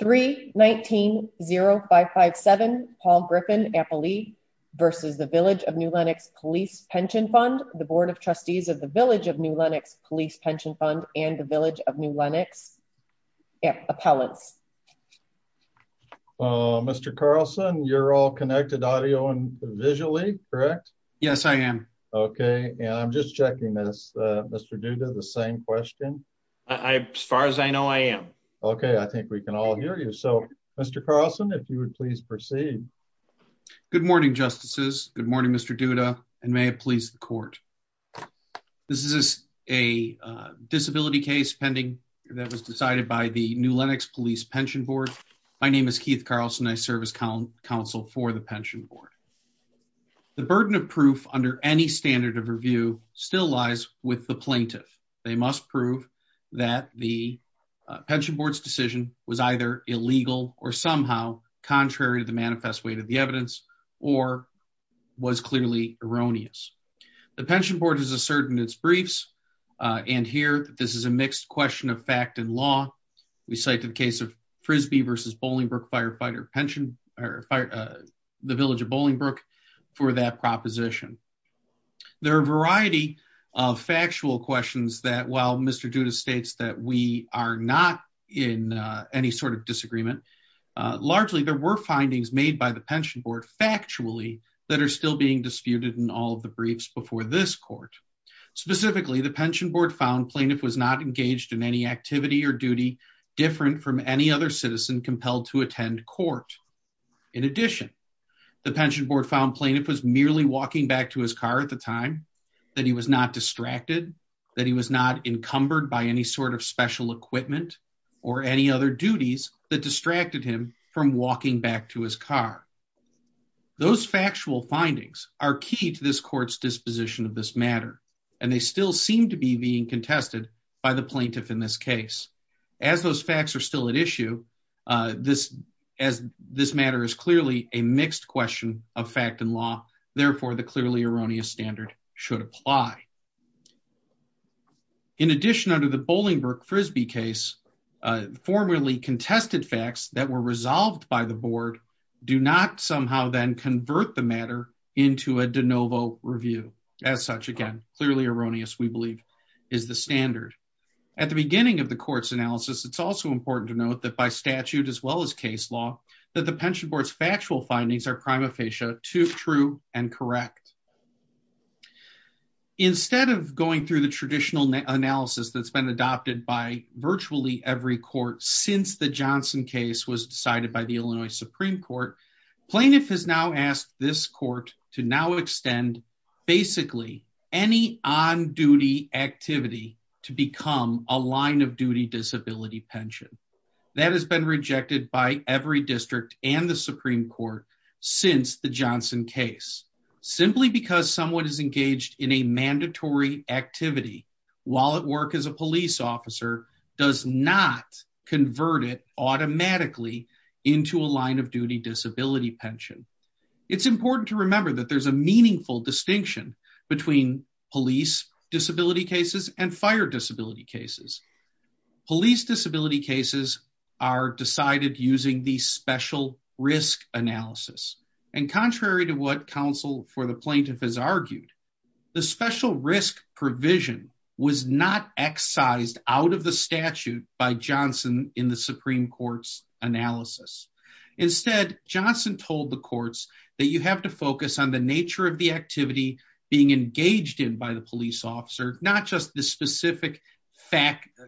3 19 0 5 5 7 Paul Griffin Apple Lee versus the Village of New Lenox Police Pension Fund the Board of Trustees of the Village of New Lenox Police Pension Fund and the Village of New Lenox Appellants. Mr. Carlson you're all connected audio and visually correct? Yes I am. Okay and I'm just checking this uh Mr. Duda the same question? I as far as I know I am. Okay I think we can all hear you. So Mr. Carlson if you would please proceed. Good morning justices. Good morning Mr. Duda and may it please the court. This is a disability case pending that was decided by the New Lenox Police Pension Board. My name is Keith Carlson. I serve as counsel for the Pension Board. The burden of proof under any standard of review still lies with the plaintiff. They must prove that the Pension Board's decision was either illegal or somehow contrary to the manifest weight of the evidence or was clearly erroneous. The Pension Board has asserted in its briefs and here that this is a mixed question of fact and law. We cite the case of Frisbee versus Bolingbrook firefighter pension or the Village of Bolingbrook for that proposition. There are a few things that Mr. Duda states that we are not in any sort of disagreement. Largely there were findings made by the Pension Board factually that are still being disputed in all of the briefs before this court. Specifically the Pension Board found plaintiff was not engaged in any activity or duty different from any other citizen compelled to attend court. In addition the Pension Board found plaintiff was merely walking back to his car at the time, that he was not distracted, that he was not encumbered by any sort of special equipment or any other duties that distracted him from walking back to his car. Those factual findings are key to this court's disposition of this matter and they still seem to be being contested by the plaintiff in this case. As those facts are still at issue, as this matter is clearly a mixed question of fact and law therefore the clearly erroneous standard should apply. In addition under the Bolingbrook Frisbee case formerly contested facts that were resolved by the board do not somehow then convert the matter into a de novo review. As such again clearly erroneous we believe is the standard. At the beginning of the court's analysis it's also important to note that by statute as well as in this case it is not the case that the judge has decided that this matter should be rejected. Instead of going through the traditional analysis that's been adopted by virtually every court since the Johnson case was decided by the Illinois Supreme Court, plaintiff has now asked this court to now extend basically any on-duty activity to become a line someone is engaged in a mandatory activity while at work as a police officer does not convert it automatically into a line of duty disability pension. It's important to remember that there's a meaningful distinction between police disability cases and fire disability cases. Police disability cases are decided using the special risk analysis and contrary to what counsel for the plaintiff has argued the special risk provision was not excised out of the statute by Johnson in the Supreme Court's analysis. Instead Johnson told the courts that you have to focus on the nature of the activity being engaged in by the police officer not just the specific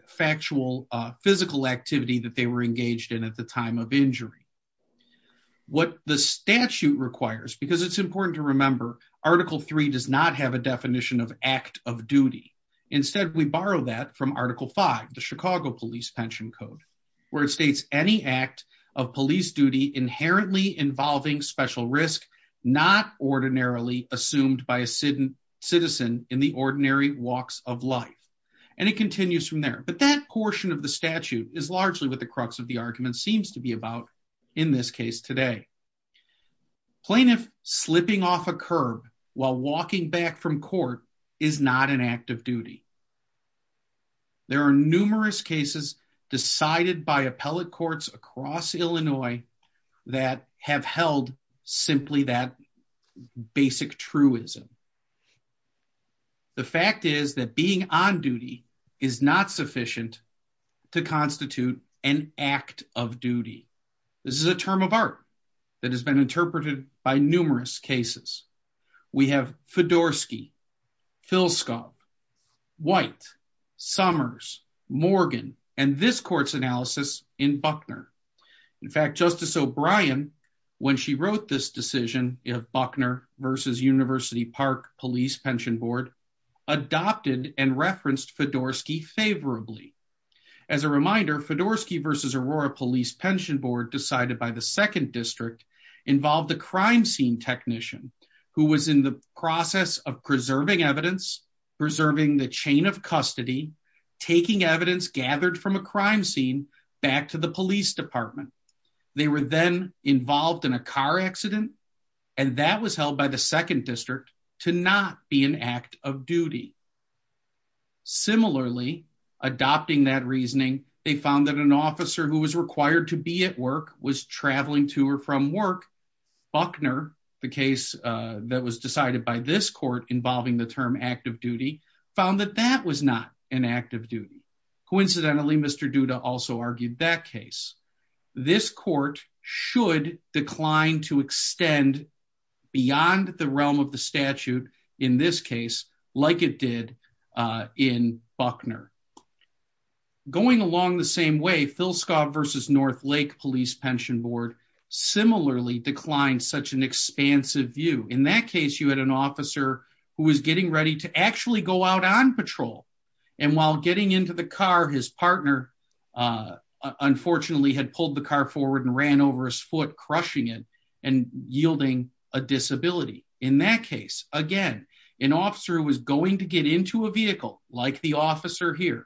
factual physical activity that they were engaged in at the time of injury. What the statute requires because it's important to remember article 3 does not have a definition of act of duty instead we borrow that from article 5 the Chicago police pension code where it states any act of police duty inherently involving special risk not ordinarily assumed by a citizen in the ordinary walks of life and it continues from there but that portion of the in this case today plaintiff slipping off a curb while walking back from court is not an act of duty. There are numerous cases decided by appellate courts across Illinois that have held simply that basic truism. The fact is that being on duty is not sufficient to constitute an act of duty. This is a term of art that has been interpreted by numerous cases. We have Fedorsky, Filskov, White, Summers, Morgan and this court's analysis in Buckner. In fact Justice O'Brien when she wrote this decision if Buckner versus University Park Police Pension Board adopted and referenced favorably. As a reminder Fedorsky versus Aurora Police Pension Board decided by the second district involved the crime scene technician who was in the process of preserving evidence preserving the chain of custody taking evidence gathered from a crime scene back to the police department. They were then involved in a car accident and that was held by the second district to not be an act of duty. Similarly adopting that reasoning they found that an officer who was required to be at work was traveling to or from work. Buckner the case that was decided by this court involving the term active duty found that that was not an act of duty. Coincidentally Mr. Duda also argued that case. This court should decline to extend beyond the realm of the statute in this case like it did in Buckner. Going along the same way Filskov versus North Lake Police Pension Board similarly declined such an expansive view. In that case you had an officer who was getting ready to actually go out on patrol and while getting into the car his partner unfortunately had pulled the car forward and ran over his foot crushing it and yielding a disability. In that case again an officer was going to get into a vehicle like the officer here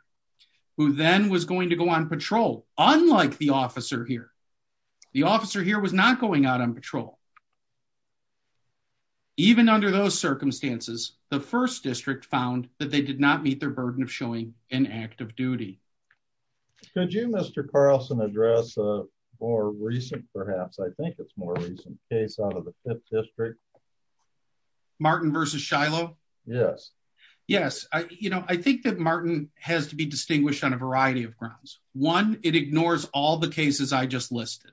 who then was going to go on patrol unlike the officer here. The officer here was not going out on patrol. Even under those circumstances the first district found that they did not meet their burden of showing an act of duty. Could you Mr. Carlson address a more recent perhaps I think it's more recent case out of the Martin versus Shiloh? Yes. I think that Martin has to be distinguished on a variety of grounds. One it ignores all the cases I just listed.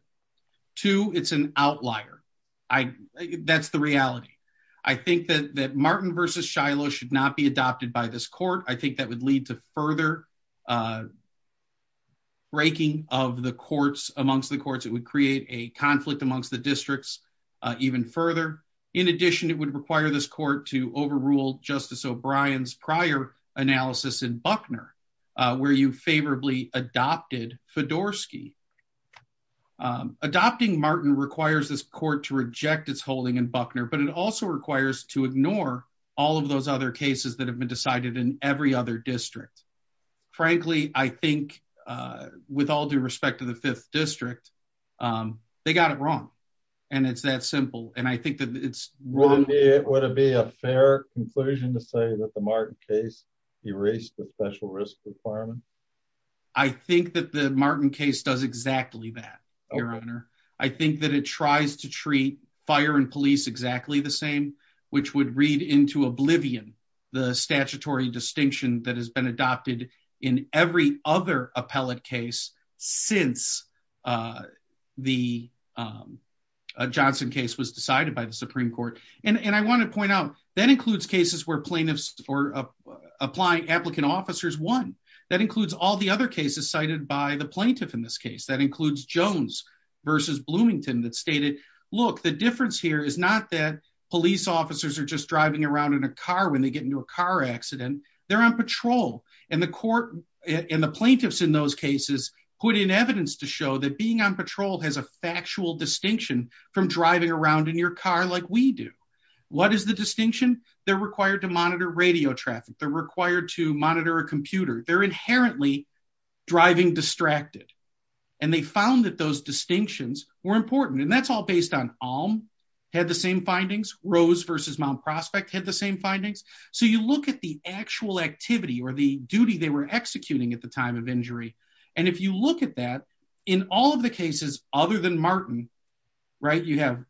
Two it's an outlier. That's the reality. I think that that Martin versus Shiloh should not be adopted by this court. I think that would lead to further breaking of the courts amongst the courts. It would create a conflict amongst the to overrule Justice O'Brien's prior analysis in Buckner where you favorably adopted Fedorsky. Adopting Martin requires this court to reject its holding in Buckner but it also requires to ignore all of those other cases that have been decided in every other district. Frankly I think with all due respect to the fifth district they got it wrong and it's that simple. Would it be a fair conclusion to say that the Martin case erased the special risk requirement? I think that the Martin case does exactly that. I think that it tries to treat fire and police exactly the same which would read into oblivion the statutory distinction that has been adopted in every other appellate case since the Johnson case was decided by the Supreme Court. I want to point out that includes cases where plaintiffs or applying applicant officers won. That includes all the other cases cited by the plaintiff in this case. That includes Jones versus Bloomington that stated look the difference here is not that police officers are just driving around in a car when they get into a car accident. They're on patrol and the court and the plaintiffs in those cases put in evidence to show that being on patrol has a factual distinction from driving around in your car like we do. What is the distinction? They're required to monitor radio traffic. They're required to monitor a computer. They're inherently driving distracted and they found that those distinctions were important and that's all based on findings. Rose versus Mount Prospect had the same findings. You look at the actual activity or the duty they were executing at the time of injury and if you look at that in all of the cases other than Martin, you have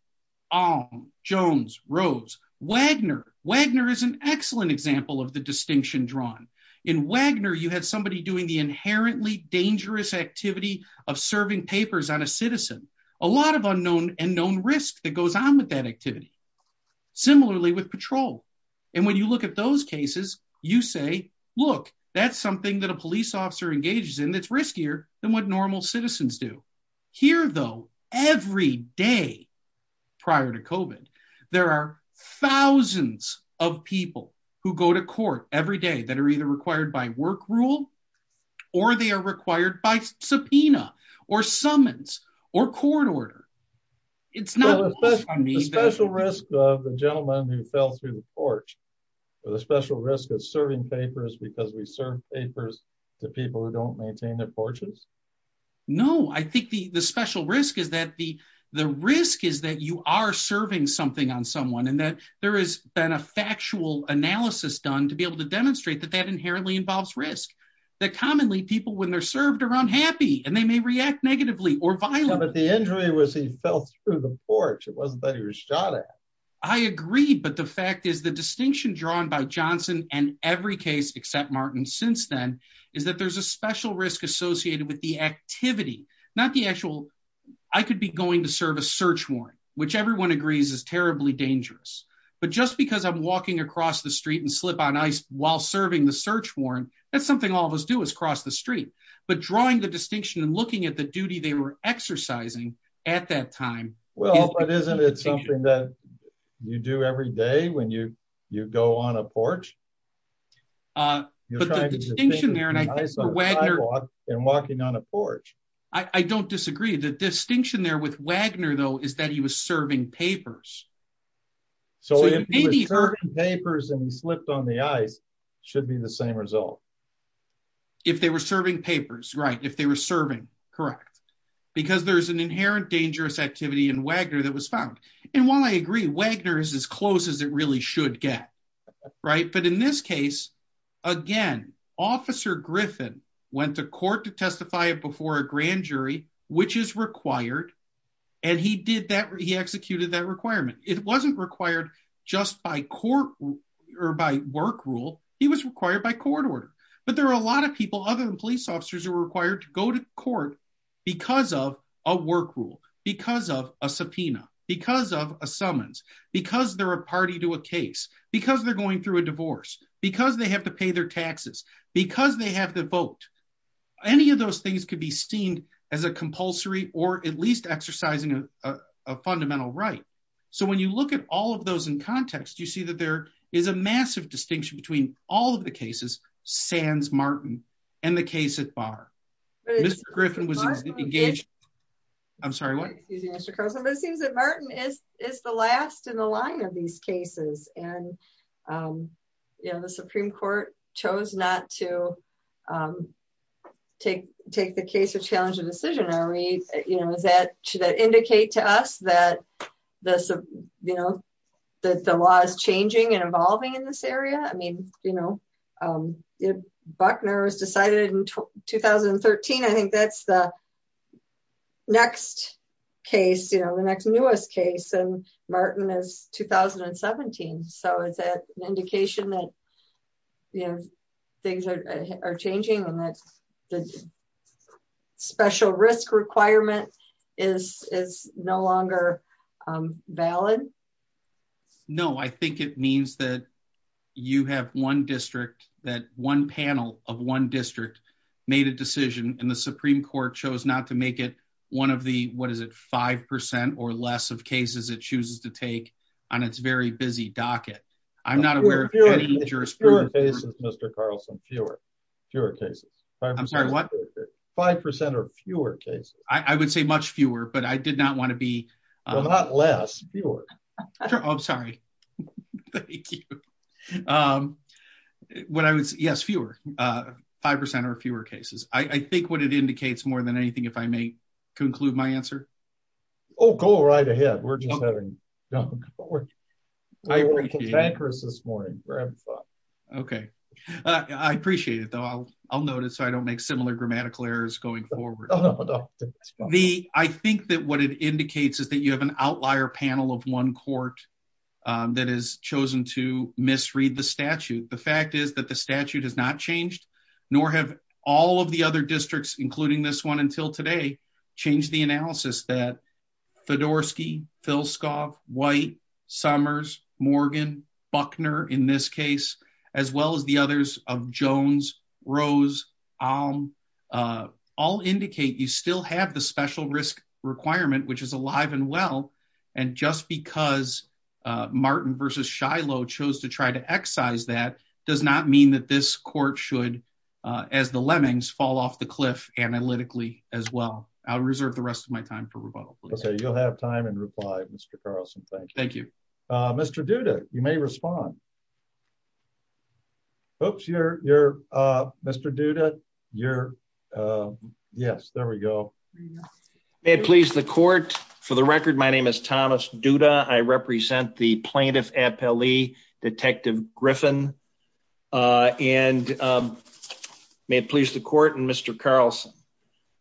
Jones, Rose, Wagner. Wagner is an excellent example of the distinction drawn. In Wagner you had somebody doing the inherently dangerous activity of serving papers on a similarly with patrol and when you look at those cases you say look that's something that a police officer engages in that's riskier than what normal citizens do. Here though every day prior to COVID there are thousands of people who go to court every day that are either required by work rule or they are required by subpoena or summons or court order. It's not a special risk of the gentleman who fell through the porch but a special risk of serving papers because we serve papers to people who don't maintain their porches. No, I think the special risk is that you are serving something on someone and that there has been a factual analysis done to be able to that commonly people when they're served are unhappy and they may react negatively or violent. But the injury was he fell through the porch it wasn't that he was shot at. I agree but the fact is the distinction drawn by Johnson and every case except Martin since then is that there's a special risk associated with the activity not the actual I could be going to serve a search warrant which everyone agrees is terribly dangerous but just because I'm walking across the street and slip on ice while serving the search warrant that's something all of us do is cross the street but drawing the distinction and looking at the duty they were exercising at that time. Well but isn't it something that you do every day when you you go on a porch? I don't disagree the distinction there with Wagner though is that he was serving papers. So if he was serving papers and he slipped on the ice should be the same result. If they were serving papers right if they were serving correct because there's an inherent dangerous activity in Wagner that was found and while I agree Wagner is as close as it really should get right but in this case again officer Griffin went to court to testify before a grand which is required and he did that he executed that requirement. It wasn't required just by court or by work rule he was required by court order but there are a lot of people other than police officers who are required to go to court because of a work rule because of a subpoena because of a summons because they're a party to a case because they're going through a divorce because they have to pay their taxes because they have the vote. Any of those things could be seen as a compulsory or at least exercising a fundamental right. So when you look at all of those in context you see that there is a massive distinction between all of the cases sans Martin and the case at bar. Mr. Griffin was engaged. I'm sorry what? It seems that Martin is is the last in the line of these not to take take the case or challenge the decision. Are we you know is that should that indicate to us that this you know that the law is changing and evolving in this area? I mean you know if Wagner was decided in 2013 I think that's the next case you know the next newest case and Martin is 2017. So is that an indication that you know things are changing and that's the special risk requirement is is no longer valid? No I think it means that you have one district that one panel of one district made a decision and the Supreme Court chose not to make it one of the what is it five percent or less of cases it chooses to take on its very busy docket. I'm not aware of any jurisprudence. Fewer cases Mr. Carlson fewer fewer cases. I'm sorry what? Five percent or fewer cases. I would say much fewer but I did not want to be. Well not less fewer. I'm sorry thank you. What I would say yes fewer five percent or fewer cases. I think what indicates more than anything if I may conclude my answer. Oh go right ahead. We're just having no I appreciate this morning. Okay I appreciate it though. I'll I'll note it so I don't make similar grammatical errors going forward. The I think that what it indicates is that you have an outlier panel of one court that has chosen to misread the statute. The fact is that the statute has not changed nor have all of the other districts including this one until today changed the analysis that Fedorsky, Filscoff, White, Summers, Morgan, Buckner in this case as well as the others of Jones, Rose, Alm all indicate you still have the special risk requirement which is alive and well and just because Martin versus Shiloh chose to try to excise that does not mean that this court should as the lemmings fall off the cliff analytically as well. I'll reserve the rest of my time for rebuttal please. Okay you'll have time and reply Mr. Carlson. Thank you. Thank you. Mr. Duda you may respond. Oops you're you're uh Mr. Duda you're uh yes there we go. May it please the court for the record my name is Thomas Duda. I represent the plaintiff appellee detective Griffin uh and um may it please the court and Mr. Carlson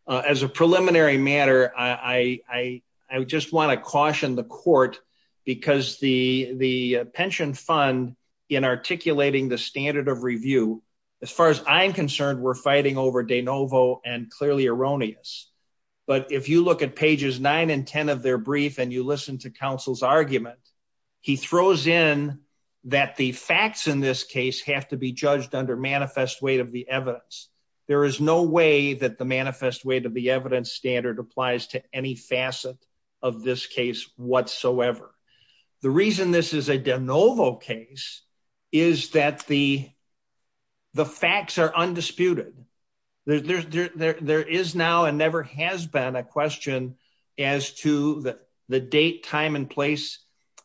uh as a preliminary matter I I I just want to caution the court because the the pension fund in articulating the standard of review as far as I'm concerned we're fighting over de novo and clearly erroneous but if you look at pages nine and ten of their brief and you listen to argument he throws in that the facts in this case have to be judged under manifest weight of the evidence. There is no way that the manifest weight of the evidence standard applies to any facet of this case whatsoever. The reason this is a de novo case is that the the facts are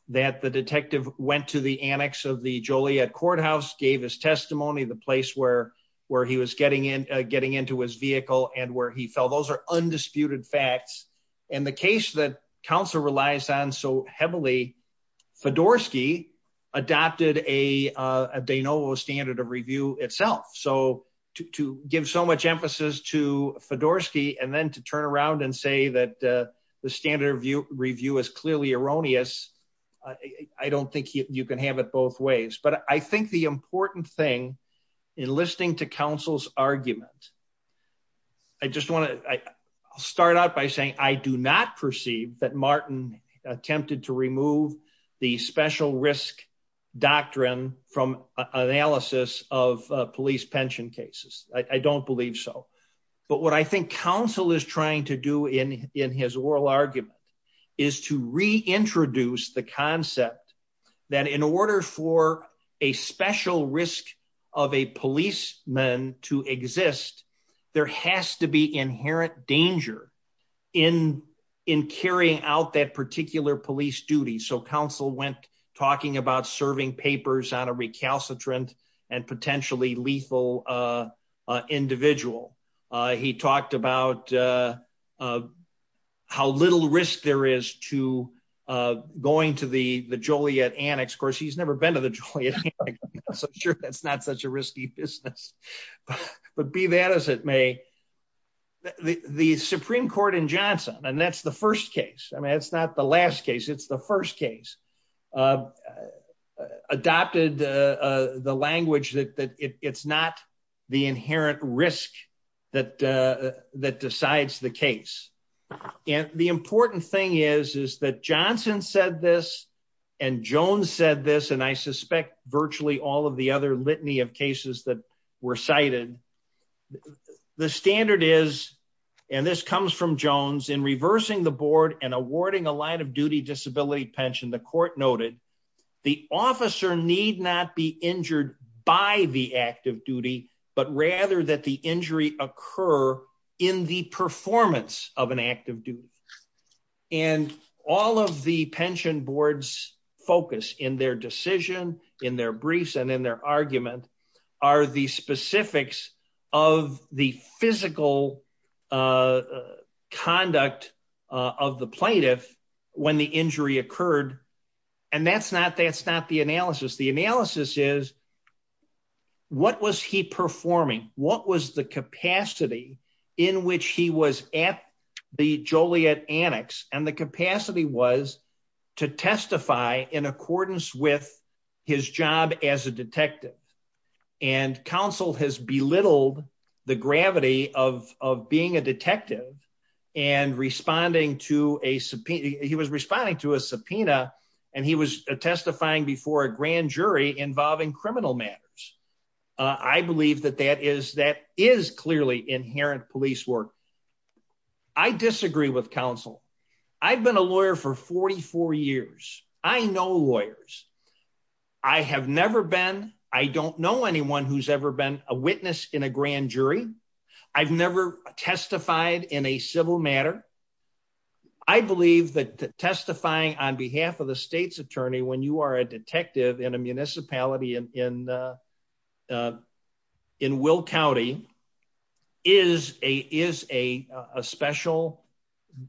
that the detective went to the annex of the Joliet courthouse gave his testimony the place where where he was getting in getting into his vehicle and where he fell those are undisputed facts and the case that counsel relies on so heavily Fedorsky adopted a a de novo standard of review itself so to to give so much emphasis to Fedorsky and then to turn around and say that the standard review review is clearly erroneous I I don't think you can have it both ways but I think the important thing in listening to counsel's argument I just want to I'll start out by saying I do not perceive that Martin attempted to remove the special risk doctrine from analysis of police pension cases. I don't believe so but what I think counsel is trying to do in in his oral argument is to reintroduce the concept that in order for a special risk of a policeman to exist there has to be inherent danger in in carrying out that particular police duty so counsel went talking about serving papers on a recalcitrant and potentially lethal individual. He talked about how little risk there is to going to the the Joliet annex course he's never been to the Joliet so I'm sure that's not such a risky business but be that as it may the Supreme Court in Johnson and that's the first case I mean it's not the last case it's the first case adopted the language that that it's not the inherent risk that that decides the case and the important thing is is that Johnson said this and Jones said this and I suspect virtually all of the other litany of cases that were cited the standard is and this comes from the court noted the officer need not be injured by the active duty but rather that the injury occur in the performance of an active duty and all of the pension boards focus in their decision in their briefs and in their argument are the specifics of the physical uh conduct uh of the plaintiff when the injury occurred and that's not that's not the analysis the analysis is what was he performing what was the capacity in which he was at the Joliet annex and the capacity was to testify in accordance with his job as a detective and counsel has belittled the gravity of of being a detective and responding to a subpoena he was responding to a subpoena and he was testifying before a grand jury involving criminal matters uh I believe that that is that is clearly inherent police work I disagree with counsel I've been a lawyer for 44 years I know lawyers I have never been I don't know anyone who's ever been a witness in a grand jury I've never testified in a civil matter I believe that testifying on behalf of the state's attorney when you are a detective in a municipality in in uh in Will County is a is a a special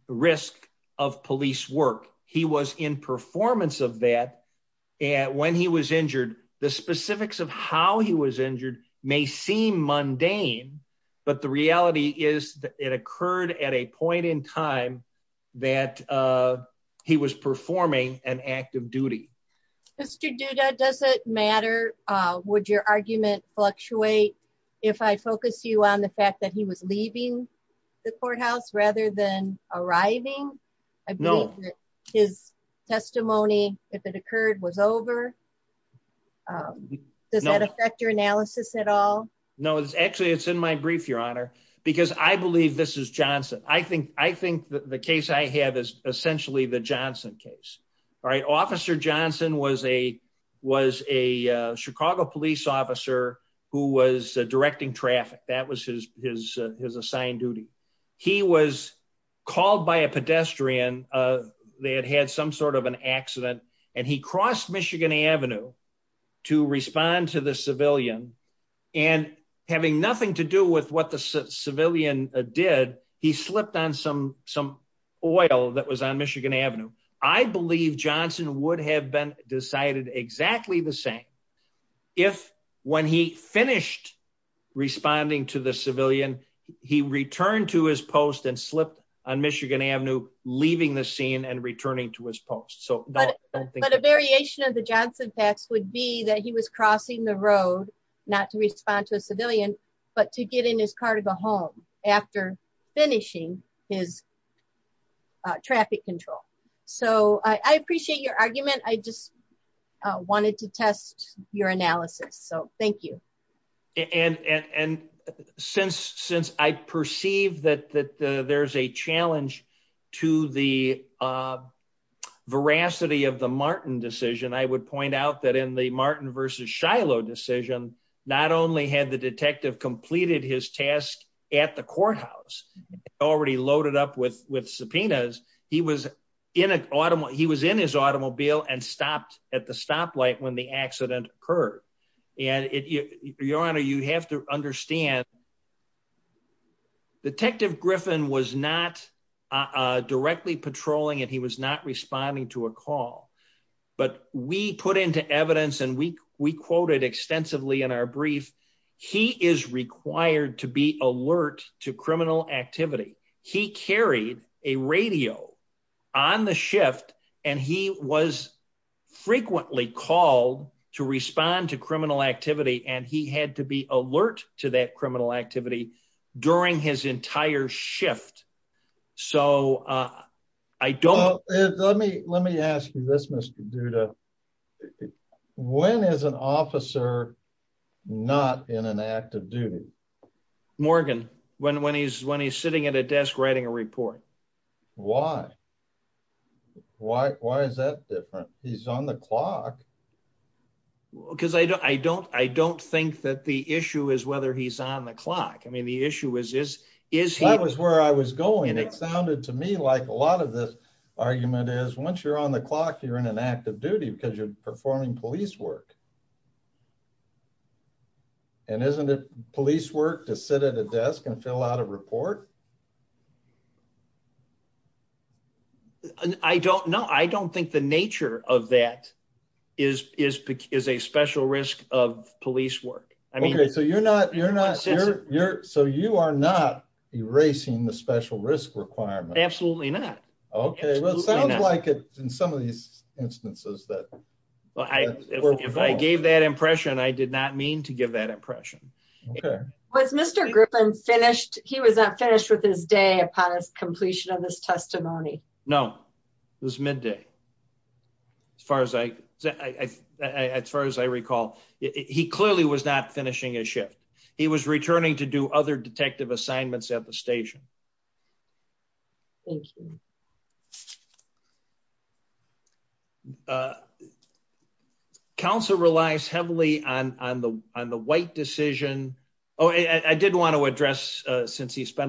risk of police work he was in performance of that and when he was injured the specifics of how he was injured may seem mundane but the reality is that it occurred at a point in time that uh he was performing an act of duty. Mr. Duda does it matter uh would your argument fluctuate if I focus you on the fact that he was leaving the courthouse rather than arriving I believe his testimony if it occurred was over um does that affect your analysis at all no it's actually it's in my brief your honor because I believe this is Johnson I think I think the case I have is essentially the Johnson case all right officer Johnson was a was a Chicago police officer who was directing traffic that was his his assigned duty he was called by a pedestrian uh they had had some sort of an accident and he crossed Michigan Avenue to respond to the civilian and having nothing to do with what the civilian did he slipped on some some oil that was Michigan Avenue I believe Johnson would have been decided exactly the same if when he finished responding to the civilian he returned to his post and slipped on Michigan Avenue leaving the scene and returning to his post so but but a variation of the Johnson tax would be that he was crossing the road not to respond to a civilian but to get in his car to go home after finishing his traffic control so I appreciate your argument I just wanted to test your analysis so thank you and and since since I perceive that that there's a challenge to the veracity of the Martin decision I would point out that in the Martin versus Shiloh decision not only had the detective completed his task at the courthouse already loaded up with with subpoenas he was in an automobile he was in his automobile and stopped at the stoplight when the accident occurred and it your honor you have to understand Detective Griffin was not directly patrolling and he was not responding to a call but we put into evidence and we we quoted extensively in our brief he is required to be alert to criminal activity he carried a radio on the shift and he was frequently called to respond to criminal activity and he had to be alert to that criminal activity during his entire shift so I don't let me let me ask you this Mr. Duda when is an officer not in an active duty Morgan when when he's when he's sitting at a desk writing a report why why why is that different he's on the clock because I don't I don't I don't think that the issue is whether he's on the clock I mean the issue is this is that was where I was going and it sounded to me like a lot of this argument is once you're on the clock you're in an active duty because you're performing police work and isn't it police work to sit at a desk and fill out a report and I don't know I don't think the nature of that is is is a special risk of police work I mean okay so you're not you're not you're you're so you are not erasing the special risk requirement absolutely not okay well it sounds like it's in some of these instances that well I if I gave that impression I did not mean to give that impression okay was Mr. Griffin finished he was not finished with his day upon his completion of his testimony no it was midday as far as I as far as I recall he clearly was not finishing his shift he was returning to do other detective assignments at the station council relies heavily on on the on the white decision oh I did want to address uh since he but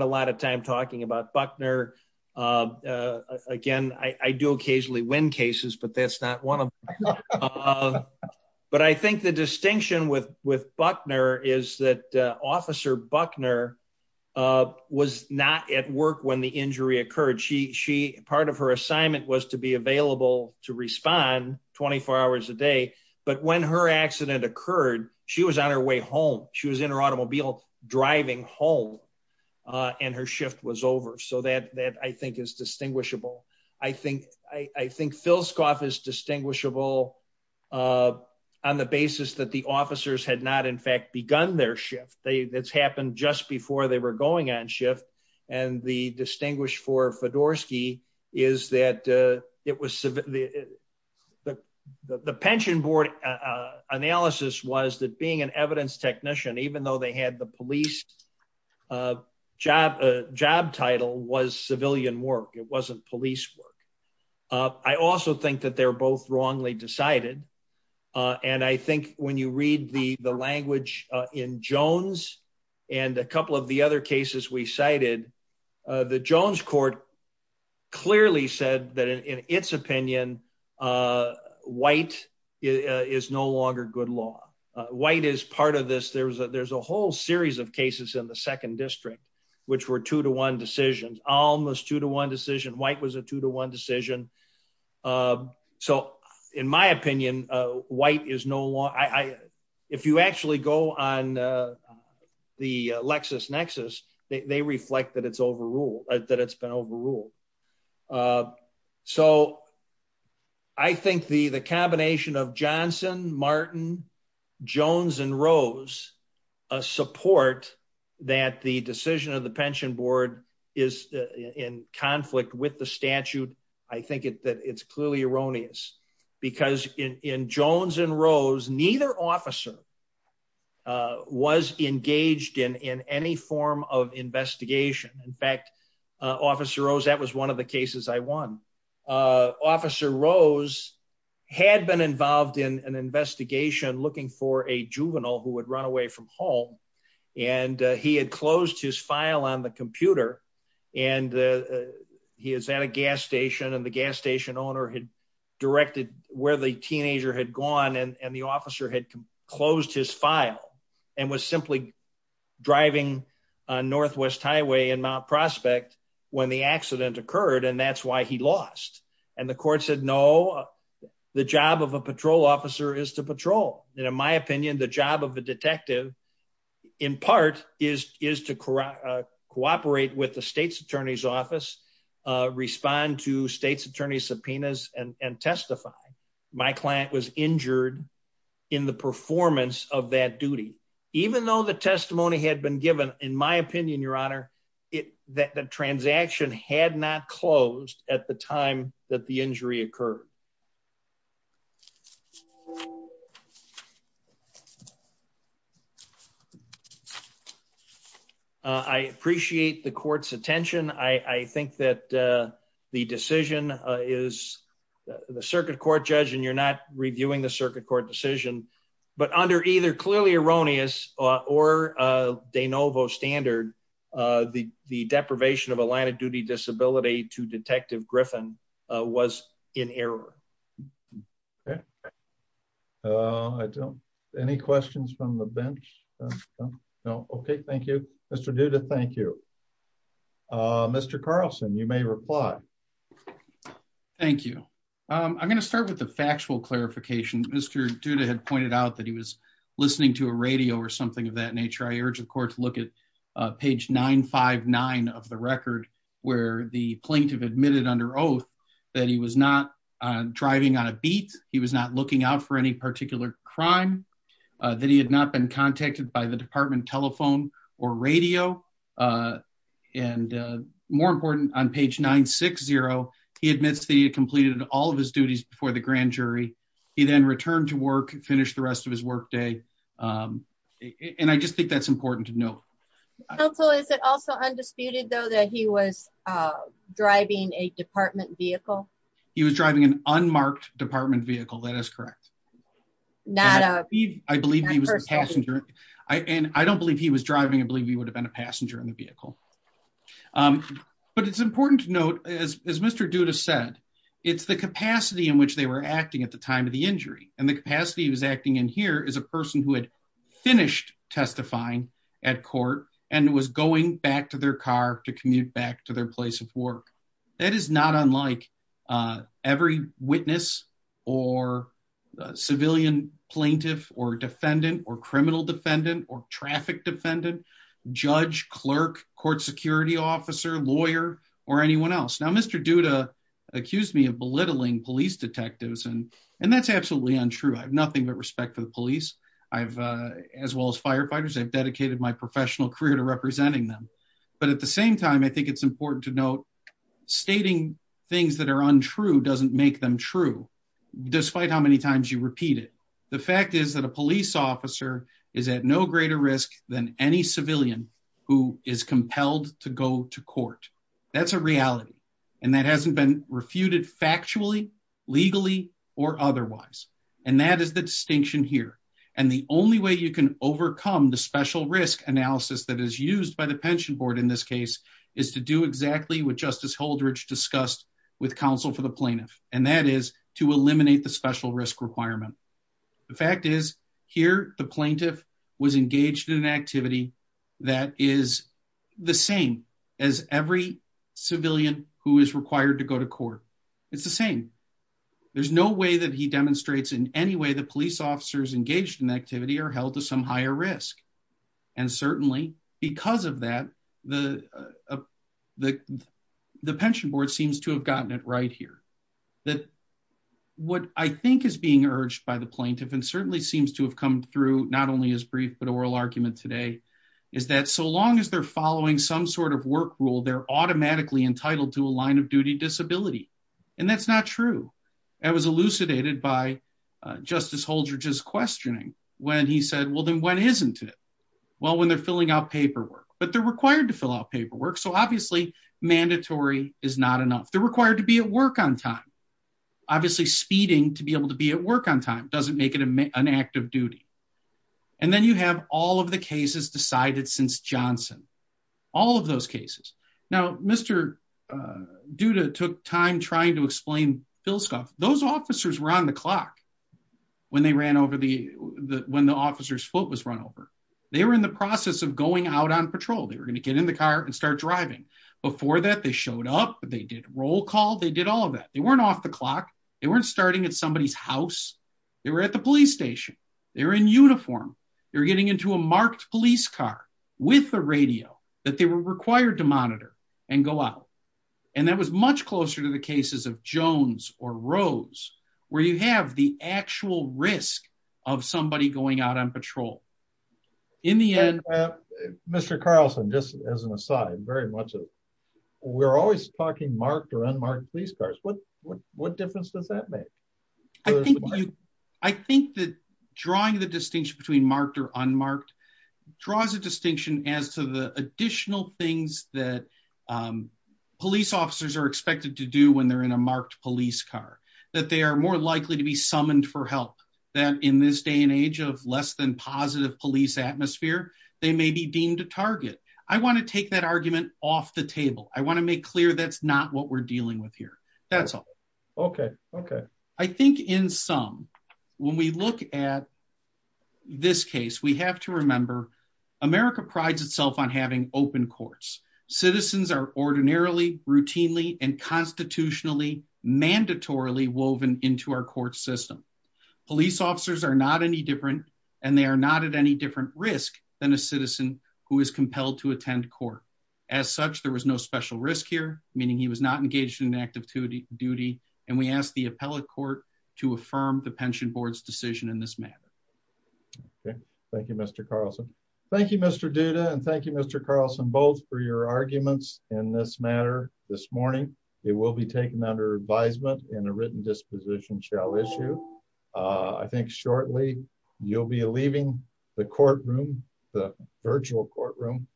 that's not one of them but I think the distinction with with Buckner is that officer Buckner was not at work when the injury occurred she she part of her assignment was to be available to respond 24 hours a day but when her accident occurred she was on her way home she was in her automobile driving home and her shift was over so that that I think is distinguishable I think I I think Filscoff is distinguishable uh on the basis that the officers had not in fact begun their shift they that's happened just before they were going on shift and the distinguished for Fedorsky is that uh it was the the the pension board uh analysis was that being an evidence technician even though they had the police uh job a job title was civilian work it wasn't police work uh I also think that they're both wrongly decided uh and I think when you read the the language uh in Jones and a couple of the other cases we cited uh the Jones court clearly said that in its opinion uh white is no longer good law uh white is part of this there's a there's a whole series of cases in the second district which were two to one decisions almost two to one decision white was a two to one decision uh so in my opinion uh white is no law I I if you actually go on uh the lexus nexus they reflect that it's overruled that it's been overruled uh so I think the the combination of Johnson Martin Jones and Rose uh support that the decision of the pension board is in conflict with the statute I think it that it's clearly erroneous because in in Jones and Rose neither officer uh was engaged in in any form of investigation in fact uh Officer Rose that was one of the cases I won uh Officer Rose had been involved in an investigation looking for a juvenile who would run away from home and he had closed his file on the computer and uh he was at a gas station and the gas station owner had directed where the teenager had gone and and the officer had closed his file and was simply driving on Northwest Highway in Mount Prospect when the accident occurred and that's why he lost and the court said no the job of a patrol officer is to patrol and in my opinion the job of the detective in part is is to cooperate with the state's attorney's office uh respond to state's attorney subpoenas and and testify my client was injured in the performance of that duty even though the testimony had been given in my opinion your honor it that transaction had not closed at the time that the injury occurred uh I appreciate the court's attention I I think that uh the decision uh is the circuit court judge and you're not reviewing the circuit court decision but under either clearly erroneous or de novo standard uh the the deprivation of a line of duty disability to detective Griffin was in error okay uh I don't any questions from the bench no okay thank you Mr. Duda thank you uh Mr. Carlson you may reply thank you um I'm going to start with the factual clarification Mr. Duda had pointed out that he was listening to a radio or something of that nature I urge the court to look at uh page 959 of the record where the plaintiff admitted under oath that he was not driving on a beat he was not looking out for any particular crime uh that he had not been contacted by the department telephone or radio uh and uh more important on page 960 he admits that he had completed all of his duties before the grand jury he then returned to work finished the rest of his work day um and I just think that's important to note counsel is it also undisputed though that he was uh driving a department vehicle he was driving an unmarked department vehicle that is correct not uh I believe he was a passenger I and I don't believe he was driving I believe he would have been a passenger in the vehicle um but it's important to note as Mr. Duda said it's the capacity in which they were acting at the time of the injury and the capacity he was acting in here is a person who had finished testifying at court and was going back to their car to commute back to their place of work that is not unlike uh every witness or civilian plaintiff or defendant or criminal defendant or traffic defendant judge clerk court security officer lawyer or anyone else now Mr. Duda accused me of belittling police detectives and and that's absolutely untrue I have nothing but respect for the police I've uh as well as firefighters I've dedicated my professional career to representing them but at the same time I think it's important to note stating things that are untrue doesn't make them true despite how many times you repeat it the fact is that a police officer is at no greater risk than any civilian who is compelled to go to court that's a reality and that hasn't been refuted factually legally or otherwise and that is the distinction here and the only way you can overcome the special risk analysis that is used by the pension board in this case is to do exactly what Justice Holdridge discussed with counsel for the was engaged in an activity that is the same as every civilian who is required to go to court it's the same there's no way that he demonstrates in any way the police officers engaged in activity are held to some higher risk and certainly because of that the the the pension board seems to have gotten it right here that what I think is being urged by the plaintiff and certainly seems to have come through not only as brief but oral argument today is that so long as they're following some sort of work rule they're automatically entitled to a line of duty disability and that's not true that was elucidated by Justice Holdridge's questioning when he said well then when isn't it well when they're filling out paperwork but they're required to fill out paperwork so obviously mandatory is not enough they're required to be at work on time obviously speeding to be able to be at work on time doesn't make it an active duty and then you have all of the cases decided since Johnson all of those cases now Mr. Duda took time trying to explain those officers were on the clock when they ran over the when the officer's foot was run over they were in the process of going out on patrol they were going to get in the car and start driving before that they showed up they did roll call they did all of that they weren't off the starting at somebody's house they were at the police station they're in uniform they're getting into a marked police car with the radio that they were required to monitor and go out and that was much closer to the cases of Jones or Rose where you have the actual risk of somebody going out on patrol in the end Mr. Carlson just as an aside very much of we're always talking marked or unmarked police cars what difference does that make? I think that drawing the distinction between marked or unmarked draws a distinction as to the additional things that police officers are expected to do when they're in a marked police car that they are more likely to be summoned for help that in this day and age of less than positive police atmosphere they may be deemed a target I want to take that argument off the table I want to make clear that's not what we're dealing with that's all okay okay I think in sum when we look at this case we have to remember America prides itself on having open courts citizens are ordinarily routinely and constitutionally mandatorily woven into our court system police officers are not any different and they are not at any different risk than a citizen who is compelled to attend court as such there was no special risk here meaning he was not engaged in active duty and we ask the appellate court to affirm the pension board's decision in this matter okay thank you Mr. Carlson thank you Mr. Duda and thank you Mr. Carlson both for your arguments in this matter this morning it will be taken under advisement and a written disposition shall issue I think shortly you'll be leaving the courtroom the virtual courtroom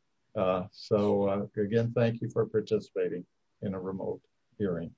so again thank you for participating in a remote hearing